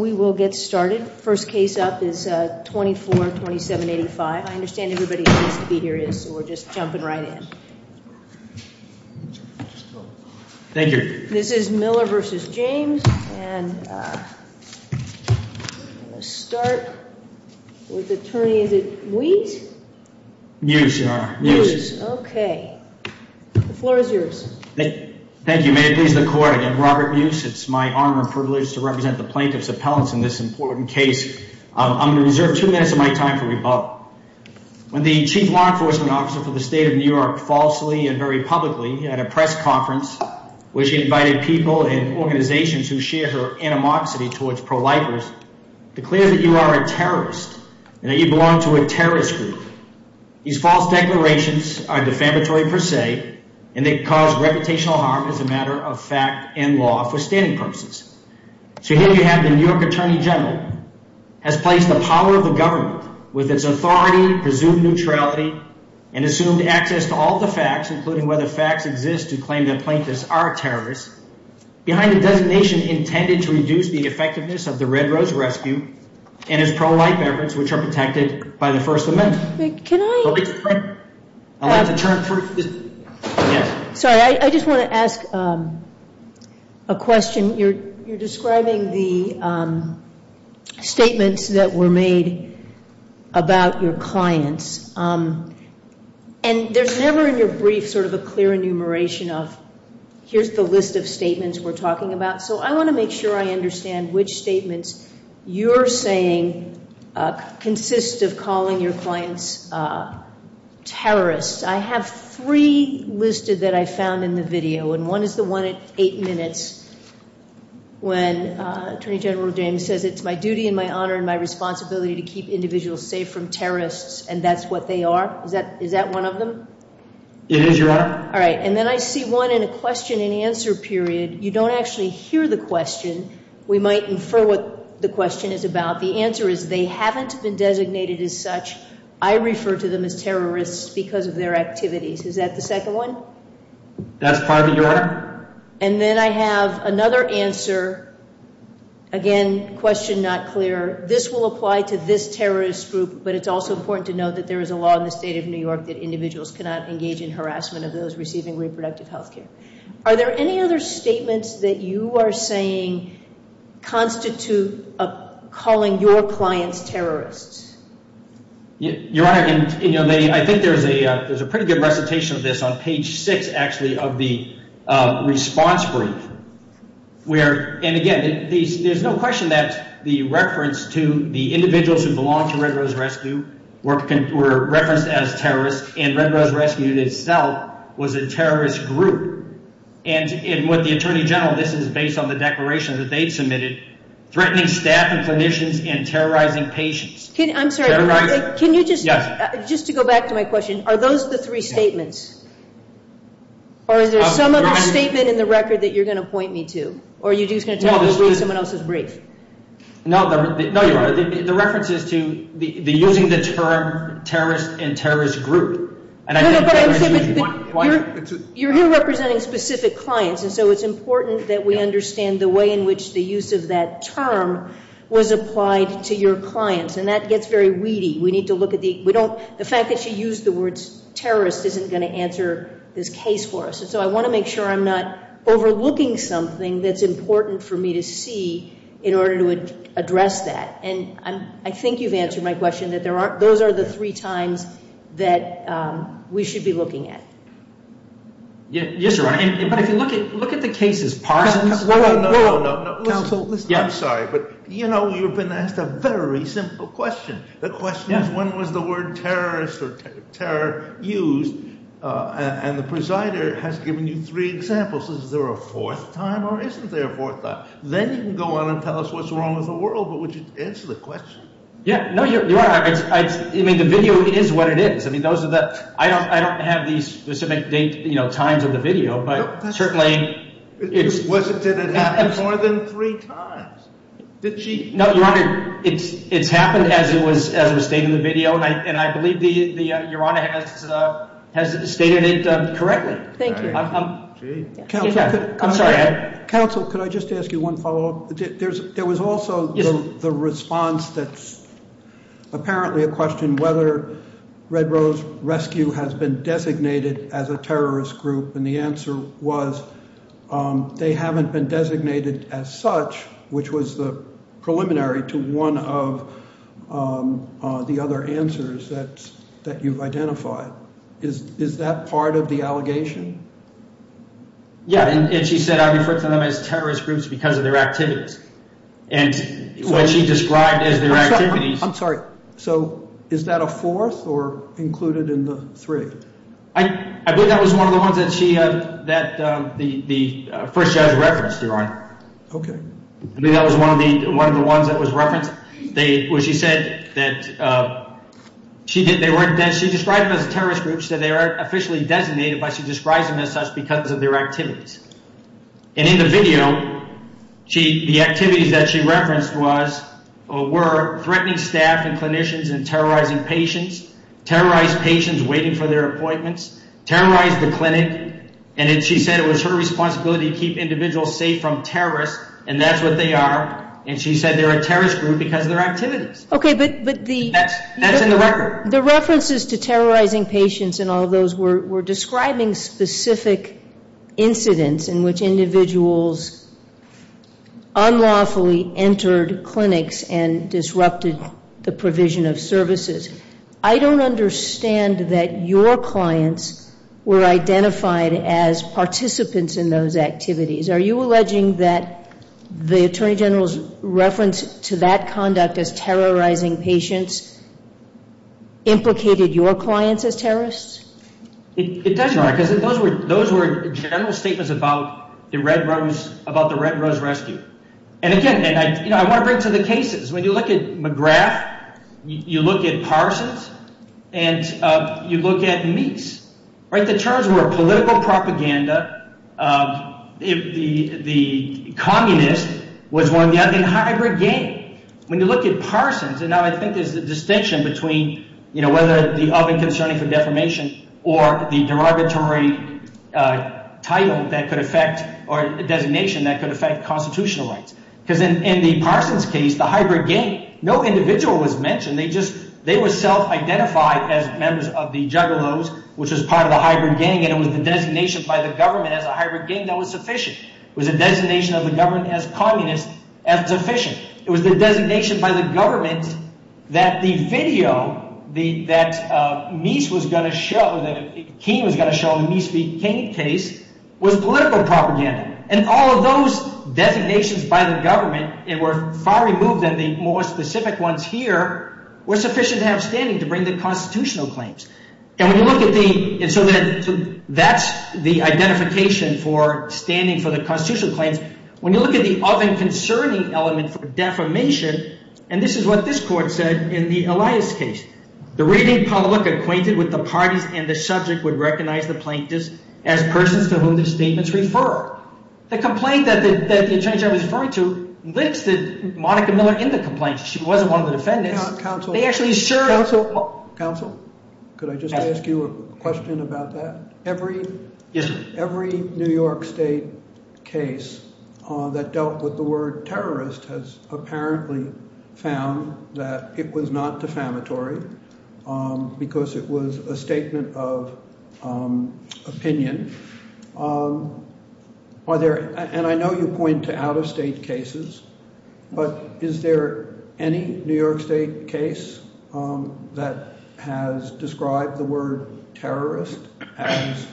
The floor is yours. Thank you, May it please the Court, I am Robert Muce, it is my honor and privilege to represent the plaintiff's appellants in this important case, I'm going to reserve two minutes of my time for rebuttal. When the Chief Law Enforcement Officer for the State of New York falsely and very publicly at a press conference where she invited people and organizations who share her animosity towards pro-lifers declared that you are a terrorist and that you belong to a terrorist group. These false declarations are defamatory per se and they cause reputational harm as a matter of fact and law for standing purposes. So here you have the New York Attorney General has placed the power of the government with its authority, presumed neutrality and assumed access to all the facts including whether facts exist to claim that plaintiffs are terrorists behind a designation intended to reduce the effectiveness of the Red Rose Rescue and its pro-life efforts which are protected by the First Amendment. I just want to ask a question, you're describing the statements that were made about your clients and there's never in your brief sort of a clear enumeration of here's the list of statements we're talking about. So I want to make sure I understand which statements you're saying consist of calling your clients terrorists. I have three listed that I found in the video and one is the one at eight minutes when Attorney General James says it's my duty and my honor and my responsibility to keep individuals safe from terrorists and that's what they are? Is that one of them? It is, Your Honor. All right. And then I see one in a question and answer period. You don't actually hear the question. We might infer what the question is about. The answer is they haven't been designated as such. I refer to them as terrorists because of their activities. Is that the second one? That's part of it, Your Honor. And then I have another answer, again, question not clear. This will apply to this terrorist group but it's also important to note that there is a law in the state of New York that individuals cannot engage in harassment of those receiving reproductive health care. Are there any other statements that you are saying constitute calling your clients terrorists? Your Honor, I think there's a pretty good recitation of this on page six, actually, of the response brief where, and again, there's no question that the reference to the individuals who belong to Red Rose Rescue were referenced as terrorists and Red Rose Rescue itself was a terrorist group. And with the Attorney General, this is based on the declaration that they submitted, threatening staff and clinicians and terrorizing patients. I'm sorry, can you just, just to go back to my question, are those the three statements? Or is there some other statement in the record that you're going to point me to? Or are you just going to tell me to read someone else's brief? No, Your Honor, the reference is to the using the term terrorist and terrorist group. No, no, but you're here representing specific clients, and so it's important that we understand the way in which the use of that term was applied to your clients. And that gets very weedy. We need to look at the, we don't, the fact that you used the words terrorist isn't going to answer this case for us. And so I want to make sure I'm not overlooking something that's important for me to see in order to address that. And I think you've answered my question that there aren't, those are the three times that we should be looking at. Yes, Your Honor. But if you look at, look at the cases, Parsons. No, no, no, no, no. Counsel. I'm sorry, but you know, you've been asked a very simple question. The question is, when was the word terrorist or terror used? And the presider has given you three examples. Is there a fourth time or isn't there a fourth time? Then you can go on and tell us what's wrong with the world. But would you answer that question? Yeah, no, Your Honor. I mean, the video is what it is. I mean, those are the, I don't, I don't have the specific date, you know, times of the video, but certainly it's. Was it, did it happen more than three times? Did she? No, Your Honor, it's, it's happened as it was, as it was stated in the video. And I, and I believe the, the Your Honor has, has stated it correctly. Thank you. Counsel, could I just ask you one follow up? There's, there was also the response to the video. And the response that's apparently a question, whether Red Rose Rescue has been designated as a terrorist group. And the answer was they haven't been designated as such, which was the preliminary to one of the other answers that, that you've identified. Is that part of the allegation? Yeah. And she said, I refer to them as terrorist groups because of their activities. And what she described as their activities. I'm sorry. So is that a fourth or included in the three? I, I believe that was one of the ones that she, that the, the first judge referenced, Okay. I believe that was one of the, one of the ones that was referenced. They, when she said that she didn't, they weren't, she described them as terrorist groups. She said they are officially designated, but she describes them as such because of their activities. And in the video, she, the activities that she referenced was, were threatening staff and clinicians and terrorizing patients. Terrorized patients waiting for their appointments. Terrorized the clinic. And then she said it was her responsibility to keep individuals safe from terrorists. And that's what they are. And she said they're a terrorist group because of their activities. Okay. But, but the. That's, that's in the record. The references to terrorizing patients and all those were, were describing specific incidents in which individuals unlawfully entered clinics and disrupted the provision of services. I don't understand that your clients were identified as participants in those activities. Are you alleging that the Attorney General's reference to that conduct as terrorizing patients implicated your clients as terrorists? It does, Your Honor. Because those were, those were general statements about the Red Rose, about the Red Rose Rescue. And again, and I, you know, I want to bring it to the cases. When you look at McGrath, you look at Parsons, and you look at Meeks. Right? The terms were political propaganda. The, the, the communist was one of the, a hybrid gang. When you look at Parsons, and now I think there's a distinction between, you know, whether the oven concerning for defamation or the derogatory title that could affect, or designation that could affect constitutional rights. Because in, in the Parsons case, the hybrid gang, no individual was mentioned. They just, they were self-identified as members of the Juggalos, which was part of the hybrid gang. And it was the designation by the government as a hybrid gang that was sufficient. It was the designation of the government as communist that was sufficient. It was the designation by the government that the video that Meeks was going to show, that Keene was going to show in the Meeks v. Keene case, was political propaganda. And all of those designations by the government were far removed than the more specific ones here, were sufficient to have standing to bring the constitutional claims. And when you look at the, and so that's the identification for standing for the constitutional claims. When you look at the oven concerning element for defamation, and this is what this court said in the Elias case, the reading public acquainted with the parties and the subject would recognize the plaintiffs as persons to whom the statements refer. The complaint that the attorney general was referring to listed Monica Miller in the complaint. She wasn't one of the defendants. They actually served. Counsel, could I just ask you a question about that? Yes, sir. Every New York State case that dealt with the word terrorist has apparently found that it was not defamatory because it was a statement of opinion. Are there, and I know you point to out-of-state cases, but is there any New York State case that has described the word terrorist as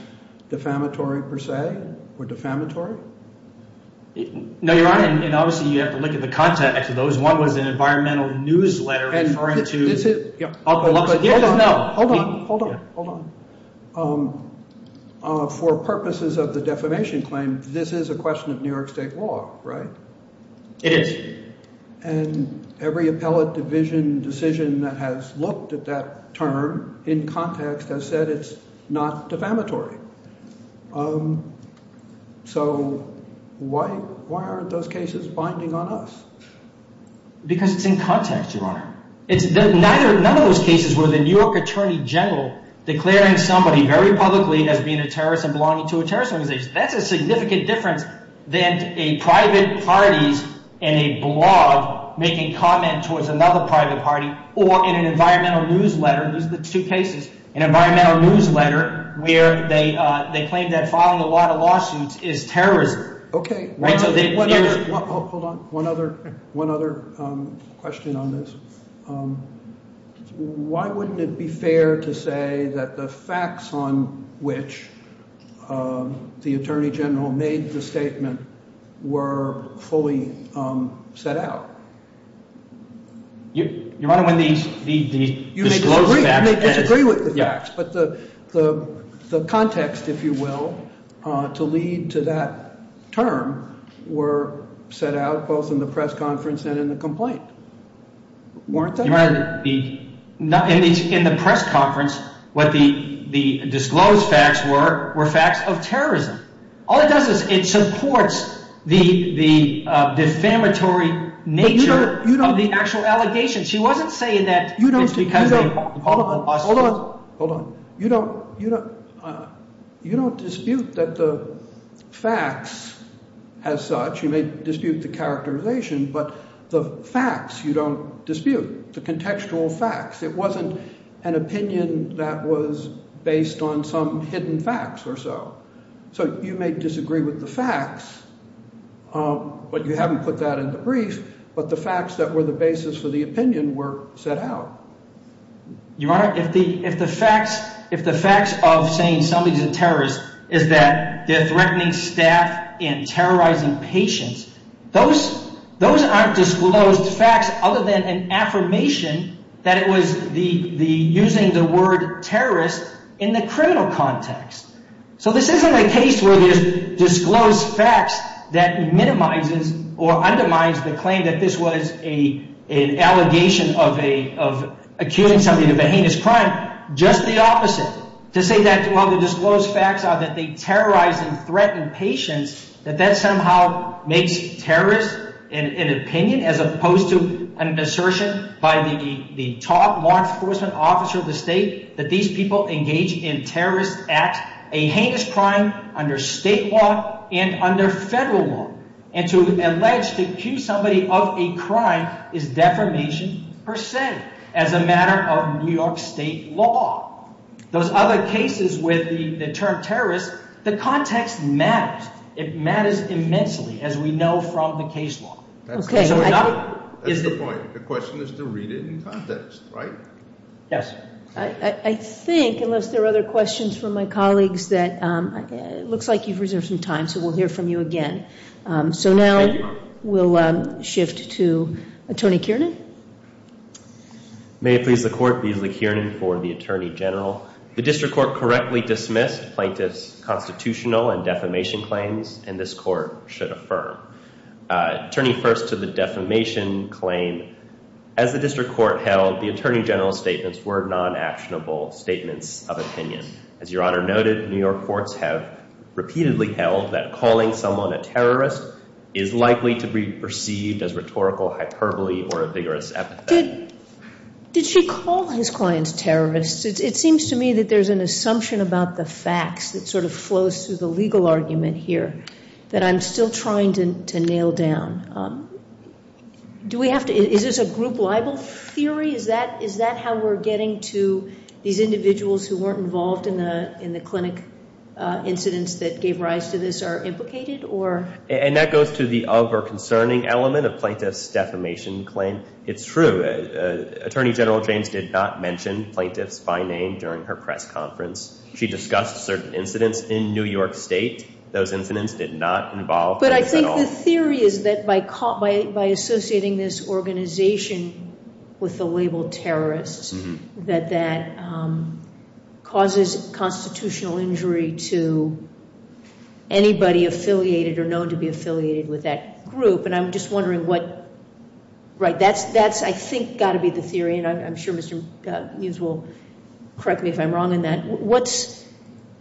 defamatory per se or defamatory? No, Your Honor, and obviously you have to look at the context of those. One was an environmental newsletter referring to. Hold on, hold on, hold on. For purposes of the defamation claim, this is a question of New York State law, right? It is. And every appellate division decision that has looked at that term in context has said it's not defamatory. So why aren't those cases binding on us? Because it's in context, Your Honor. None of those cases were the New York attorney general declaring somebody very publicly as being a terrorist and belonging to a terrorist organization. That's a significant difference than a private party's in a blog making comment towards another private party or in an environmental newsletter, these are the two cases, an environmental newsletter where they claim that filing a lot of lawsuits is terrorism. Okay, hold on. One other question on this. Why wouldn't it be fair to say that the facts on which the attorney general made the statement were fully set out? Your Honor, when these disclosed facts. You may disagree with the facts, but the context, if you will, to lead to that term were set out both in the press conference and in the complaint, weren't they? Your Honor, in the press conference, what the disclosed facts were, were facts of terrorism. All it does is it supports the defamatory nature of the actual allegations. She wasn't saying that it's because of a public lawsuit. Hold on. Hold on. You don't you don't you don't dispute that the facts as such. You may dispute the characterization, but the facts you don't dispute the contextual facts. It wasn't an opinion that was based on some hidden facts or so. So you may disagree with the facts, but you haven't put that in the brief. But the facts that were the basis for the opinion were set out. Your Honor, if the if the facts if the facts of saying somebody's a terrorist is that they're threatening staff and terrorizing patients, those those aren't disclosed facts other than an affirmation that it was the the using the word terrorist in the criminal context. So this isn't a case where there's disclosed facts that minimizes or undermines the claim that this was a an allegation of a of accusing somebody of a heinous crime. Just the opposite to say that while the disclosed facts are that they terrorize and threaten patients, that that somehow makes terrorists an opinion as opposed to an assertion by the top law enforcement officer of the state that these people engage in terrorist acts, a heinous crime under state law and under federal law. And to allege to accuse somebody of a crime is defamation per se as a matter of New York state law. Those other cases with the term terrorist, the context matters. It matters immensely, as we know from the case law. OK. That's the point. The question is to read it in context, right? Yes. I think unless there are other questions from my colleagues that it looks like you've reserved some time. So we'll hear from you again. So now we'll shift to Attorney Kiernan. May it please the court, Beasley Kiernan for the Attorney General. The district court correctly dismissed plaintiff's constitutional and defamation claims and this court should affirm. Turning first to the defamation claim, as the district court held, the Attorney General's statements were non-actionable statements of opinion. As Your Honor noted, New York courts have repeatedly held that calling someone a terrorist is likely to be perceived as rhetorical hyperbole or a vigorous epithet. Did she call his clients terrorists? It seems to me that there's an assumption about the facts that sort of flows through the legal argument here that I'm still trying to nail down. Is this a group libel theory? Is that how we're getting to these individuals who weren't involved in the clinic incidents that gave rise to this are implicated? And that goes to the other concerning element of plaintiff's defamation claim. It's true. Attorney General James did not mention plaintiffs by name during her press conference. She discussed certain incidents in New York State. Those incidents did not involve plaintiffs at all. But I think the theory is that by associating this organization with the label terrorists, that that causes constitutional injury to anybody affiliated or known to be affiliated with that group. And I'm just wondering what, right, that's, I think, got to be the theory. And I'm sure Mr. Mews will correct me if I'm wrong in that.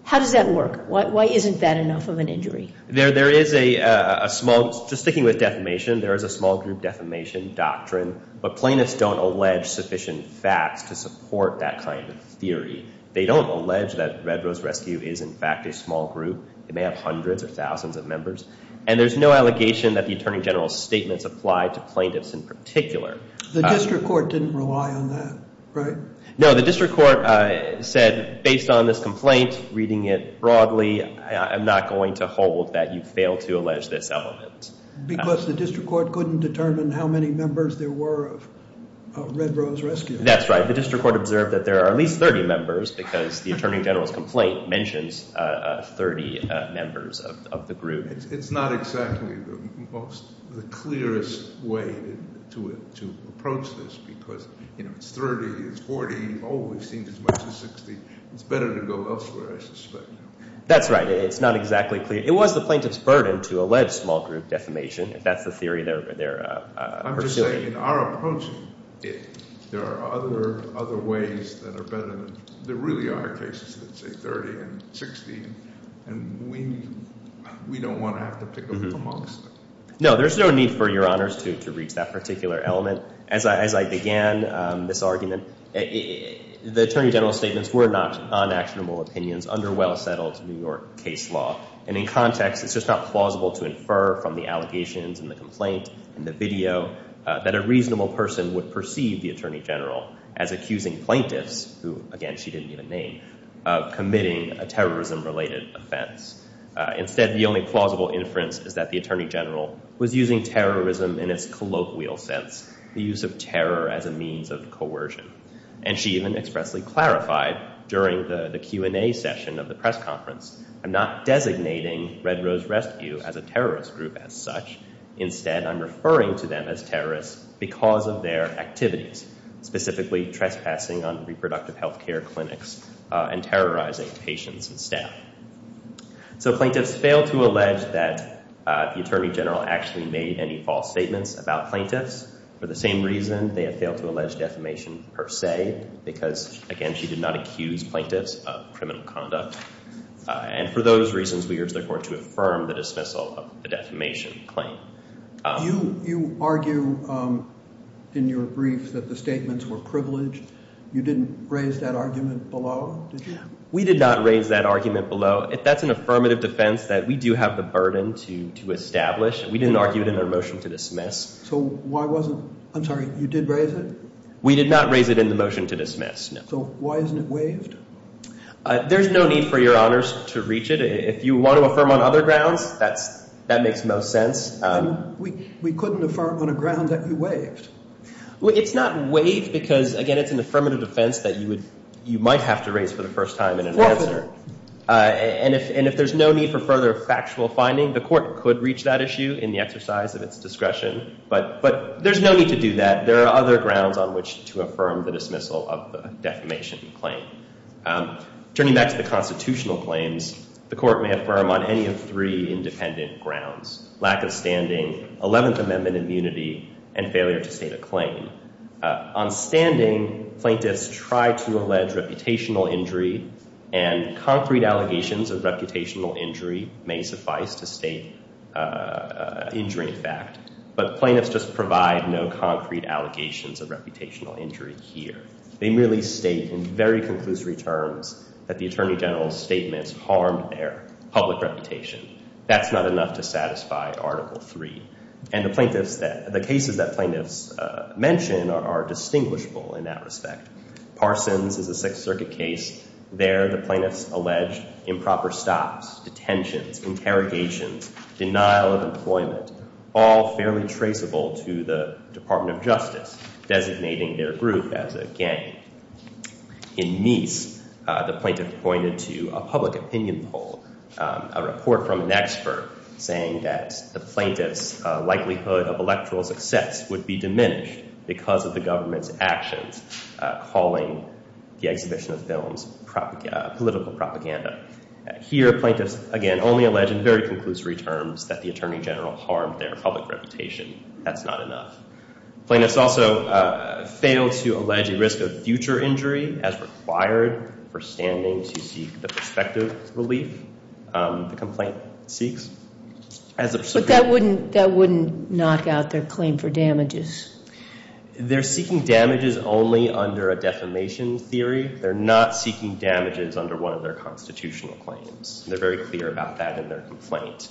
How does that work? Why isn't that enough of an injury? There is a small, just sticking with defamation, there is a small group defamation doctrine. But plaintiffs don't allege sufficient facts to support that kind of theory. They don't allege that Red Rose Rescue is, in fact, a small group. It may have hundreds or thousands of members. And there's no allegation that the Attorney General's statements apply to plaintiffs in particular. The district court didn't rely on that, right? No, the district court said based on this complaint, reading it broadly, I'm not going to hold that you fail to allege this element. Because the district court couldn't determine how many members there were of Red Rose Rescue. That's right. The district court observed that there are at least 30 members because the Attorney General's complaint mentions 30 members of the group. It's not exactly the most, the clearest way to approach this because it's 30, it's 40, oh, we've seen as much as 60. It's better to go elsewhere, I suspect. That's right. It's not exactly clear. It was the plaintiff's burden to allege small group defamation. That's the theory they're pursuing. I'm just saying in our approach, there are other ways that are better. There really are cases that say 30 and 60, and we don't want to have to pick amongst them. No, there's no need for Your Honors to reach that particular element. As I began this argument, the Attorney General's statements were not unactionable opinions under well-settled New York case law. And in context, it's just not plausible to infer from the allegations and the complaint and the video that a reasonable person would perceive the Attorney General as accusing plaintiffs, who, again, she didn't even name, of committing a terrorism-related offense. Instead, the only plausible inference is that the Attorney General was using terrorism in its colloquial sense, the use of terror as a means of coercion. And she even expressly clarified during the Q&A session of the press conference, I'm not designating Red Rose Rescue as a terrorist group as such. Instead, I'm referring to them as terrorists because of their activities, specifically trespassing on reproductive health care clinics and terrorizing patients and staff. So plaintiffs failed to allege that the Attorney General actually made any false statements about plaintiffs. For the same reason, they have failed to allege defamation per se, because, again, she did not accuse plaintiffs of criminal conduct. And for those reasons, we urge the Court to affirm the dismissal of the defamation claim. You argue in your brief that the statements were privileged. You didn't raise that argument below, did you? We did not raise that argument below. That's an affirmative defense that we do have the burden to establish. We didn't argue it in our motion to dismiss. So why wasn't—I'm sorry, you did raise it? We did not raise it in the motion to dismiss, no. So why isn't it waived? There's no need for Your Honors to reach it. If you want to affirm on other grounds, that makes the most sense. We couldn't affirm on a ground that you waived. It's not waived because, again, it's an affirmative defense that you might have to raise for the first time in an answer. And if there's no need for further factual finding, the Court could reach that issue in the exercise of its discretion. But there's no need to do that. There are other grounds on which to affirm the dismissal of the defamation claim. Turning back to the constitutional claims, the Court may affirm on any of three independent grounds, lack of standing, Eleventh Amendment immunity, and failure to state a claim. On standing, plaintiffs try to allege reputational injury, and concrete allegations of reputational injury may suffice to state an injury in fact. But plaintiffs just provide no concrete allegations of reputational injury here. They merely state in very conclusory terms that the Attorney General's statements harmed their public reputation. That's not enough to satisfy Article III. And the cases that plaintiffs mention are distinguishable in that respect. Parsons is a Sixth Circuit case. There, the plaintiffs allege improper stops, detentions, interrogations, denial of employment, all fairly traceable to the Department of Justice, designating their group as a gang. In Meese, the plaintiff pointed to a public opinion poll, a report from an expert saying that the plaintiff's likelihood of electoral success would be diminished because of the government's actions, calling the exhibition of films political propaganda. Here, plaintiffs, again, only allege in very conclusory terms that the Attorney General harmed their public reputation. That's not enough. Plaintiffs also fail to allege a risk of future injury as required for standing to seek the prospective relief the complaint seeks. But that wouldn't knock out their claim for damages. They're seeking damages only under a defamation theory. They're not seeking damages under one of their constitutional claims. They're very clear about that in their complaint.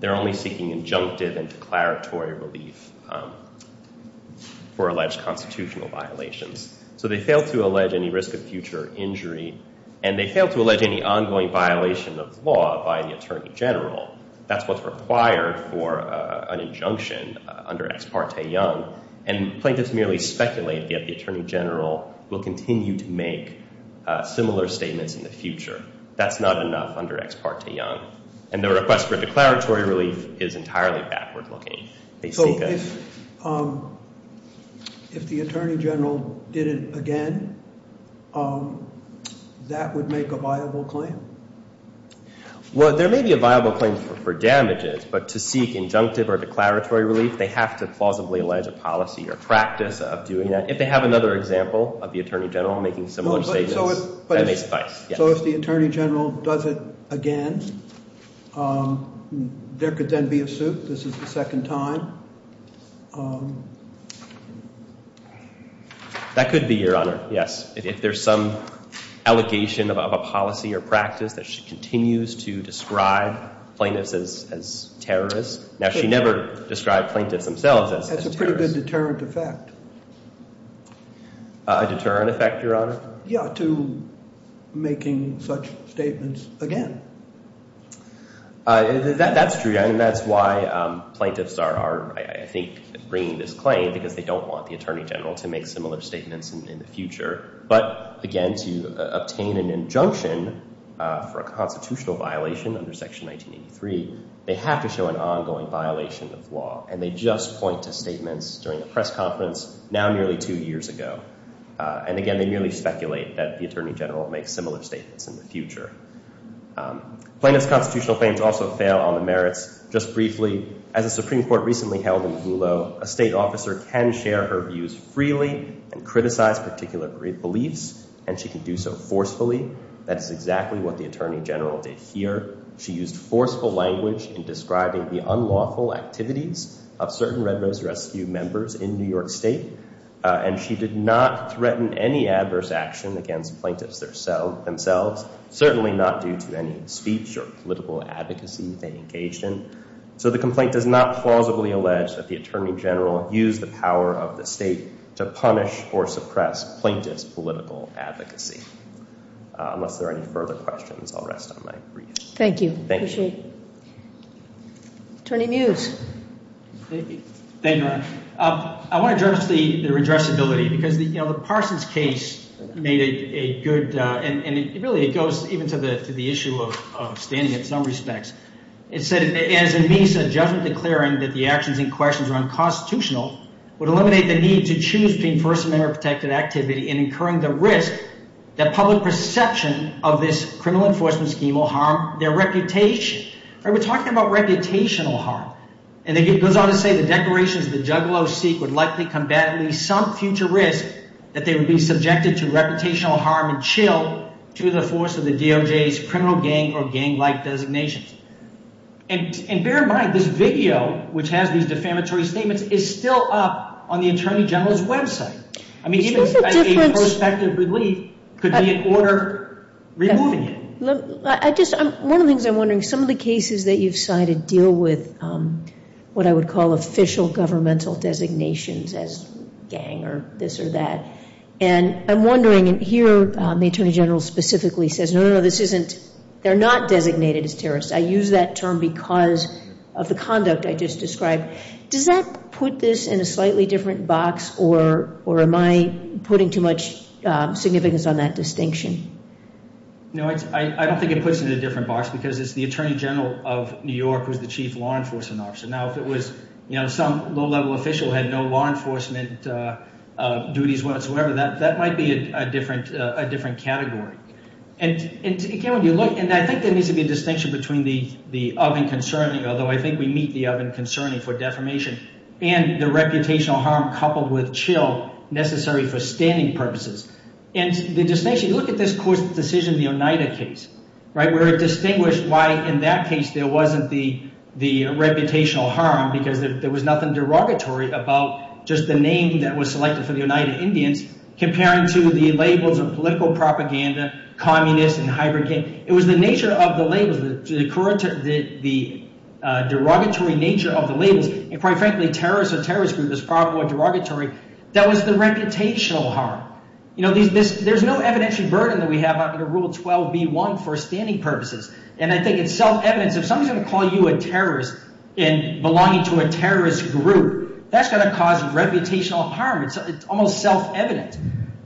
They're only seeking injunctive and declaratory relief for alleged constitutional violations. So they fail to allege any risk of future injury. And they fail to allege any ongoing violation of law by the Attorney General. That's what's required for an injunction under Ex Parte Young. And plaintiffs merely speculate that the Attorney General will continue to make similar statements in the future. That's not enough under Ex Parte Young. And their request for declaratory relief is entirely backward-looking. They seek a- So if the Attorney General did it again, that would make a viable claim? Well, there may be a viable claim for damages, but to seek injunctive or declaratory relief, they have to plausibly allege a policy or practice of doing that. If they have another example of the Attorney General making similar statements, that may suffice. So if the Attorney General does it again, there could then be a suit? This is the second time? That could be, Your Honor, yes. If there's some allegation of a policy or practice that she continues to describe plaintiffs as terrorists. Now, she never described plaintiffs themselves as terrorists. That's a pretty good deterrent effect. A deterrent effect, Your Honor? Yeah, to making such statements again. That's true, and that's why plaintiffs are, I think, bringing this claim, because they don't want the Attorney General to make similar statements in the future. But, again, to obtain an injunction for a constitutional violation under Section 1983, they have to show an ongoing violation of law, and they just point to statements during a press conference now nearly two years ago. And, again, they merely speculate that the Attorney General will make similar statements in the future. Plaintiffs' constitutional claims also fail on the merits. Just briefly, as a Supreme Court recently held in Hulot, a state officer can share her views freely and criticize particular beliefs, and she can do so forcefully. That is exactly what the Attorney General did here. She used forceful language in describing the unlawful activities of certain Red Rose Rescue members in New York State, and she did not threaten any adverse action against plaintiffs themselves, certainly not due to any speech or political advocacy they engaged in. So the complaint does not plausibly allege that the Attorney General used the power of the state to punish or suppress plaintiff's political advocacy. Unless there are any further questions, I'll rest on my briefs. Thank you. Thank you. Attorney Mews. Thank you. I want to address the redressability, because the Parsons case made a good, and really it goes even to the issue of standing in some respects. It said, as in Meece, a judgment declaring that the actions in question are unconstitutional would eliminate the need to choose between First Amendment-protected activity and incurring the risk that public perception of this criminal enforcement scheme will harm their reputation. We're talking about reputational harm. And it goes on to say the declarations the juggalos seek would likely combat at least some future risk that they would be subjected to reputational harm and chill to the force of the DOJ's criminal gang or gang-like designations. And bear in mind, this video, which has these defamatory statements, is still up on the Attorney General's website. I mean, even a prospective relief could be in order removing it. One of the things I'm wondering, some of the cases that you've cited deal with what I would call official governmental designations as gang or this or that. And I'm wondering, and here the Attorney General specifically says, no, no, no, this isn't, they're not designated as terrorists. I use that term because of the conduct I just described. Does that put this in a slightly different box, or am I putting too much significance on that distinction? No, I don't think it puts it in a different box because it's the Attorney General of New York who's the chief law enforcement officer. Now, if it was some low-level official who had no law enforcement duties whatsoever, that might be a different category. And I think there needs to be a distinction between the oven concerning, although I think we meet the oven concerning for defamation, and the reputational harm coupled with chill necessary for standing purposes. And the distinction, look at this court's decision, the Oneida case, where it distinguished why in that case there wasn't the reputational harm because there was nothing derogatory about just the name that was selected for the Oneida Indians comparing to the labels of political propaganda, communist, and hybrid gang. It was the nature of the labels, the derogatory nature of the labels. And quite frankly, terrorists or terrorist group is probably more derogatory. That was the reputational harm. There's no evidentiary burden that we have under Rule 12b-1 for standing purposes. And I think it's self-evident. If someone's going to call you a terrorist and belonging to a terrorist group, that's going to cause reputational harm. It's almost self-evident.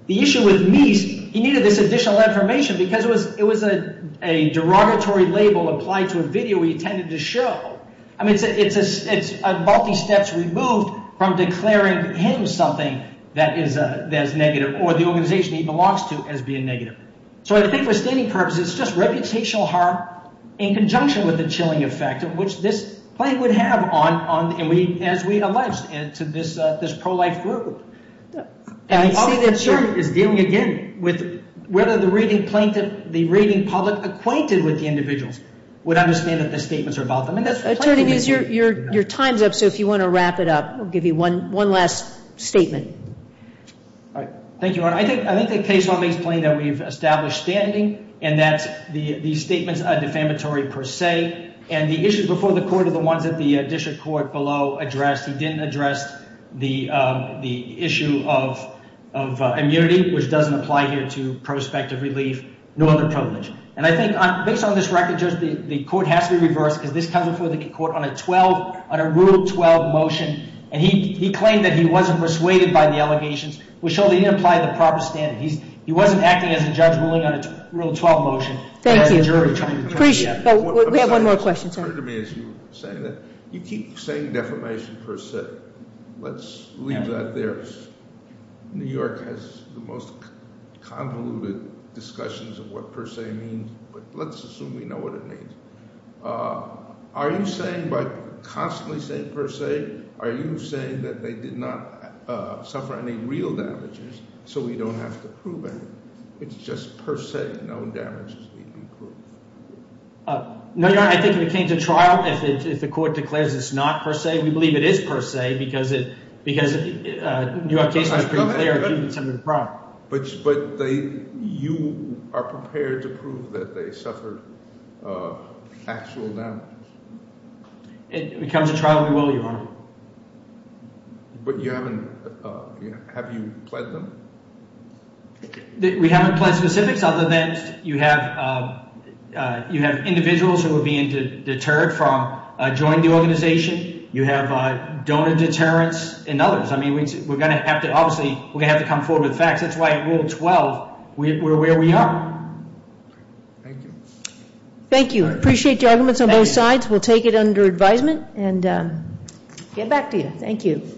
The issue with Meese, he needed this additional information because it was a derogatory label applied to a video he intended to show. I mean, it's multi-steps removed from declaring him something that is negative or the organization he belongs to as being negative. So I think for standing purposes, it's just reputational harm in conjunction with the chilling effect of which this plaintiff would have as we allege to this pro-life group. And the public is dealing again with whether the rating plaintiff, the rating public acquainted with the individuals would understand that the statements are about them. Attorney Meese, your time's up, so if you want to wrap it up, I'll give you one last statement. Thank you, Your Honor. I think the case law makes plain that we've established standing and that these statements are defamatory per se. And the issues before the court are the ones that the district court below addressed. He didn't address the issue of immunity, which doesn't apply here to prospective relief, nor the privilege. And I think based on this record, Judge, the court has to be reversed because this comes before the court on a Rule 12 motion, and he claimed that he wasn't persuaded by the allegations, which showed he didn't apply the proper standard. He wasn't acting as a judge ruling on a Rule 12 motion. Thank you. We have one more question, sir. You keep saying defamation per se. Let's leave that there. New York has the most convoluted discussions of what per se means, but let's assume we know what it means. Are you saying by constantly saying per se, are you saying that they did not suffer any real damages so we don't have to prove anything? It's just per se, no damages need to be proved. No, Your Honor. I think if it came to trial, if the court declares it's not per se, we believe it is per se because New York case was pretty clear. But you are prepared to prove that they suffered actual damages? If it comes to trial, we will, Your Honor. But you haven't – have you pled them? We haven't pled specifics other than you have individuals who are being deterred from joining the organization. You have donor deterrence and others. I mean, we're going to have to – obviously, we're going to have to come forward with facts. That's why Rule 12, we're where we are. Thank you. Thank you. I appreciate the arguments on both sides. We'll take it under advisement and get back to you. Thank you.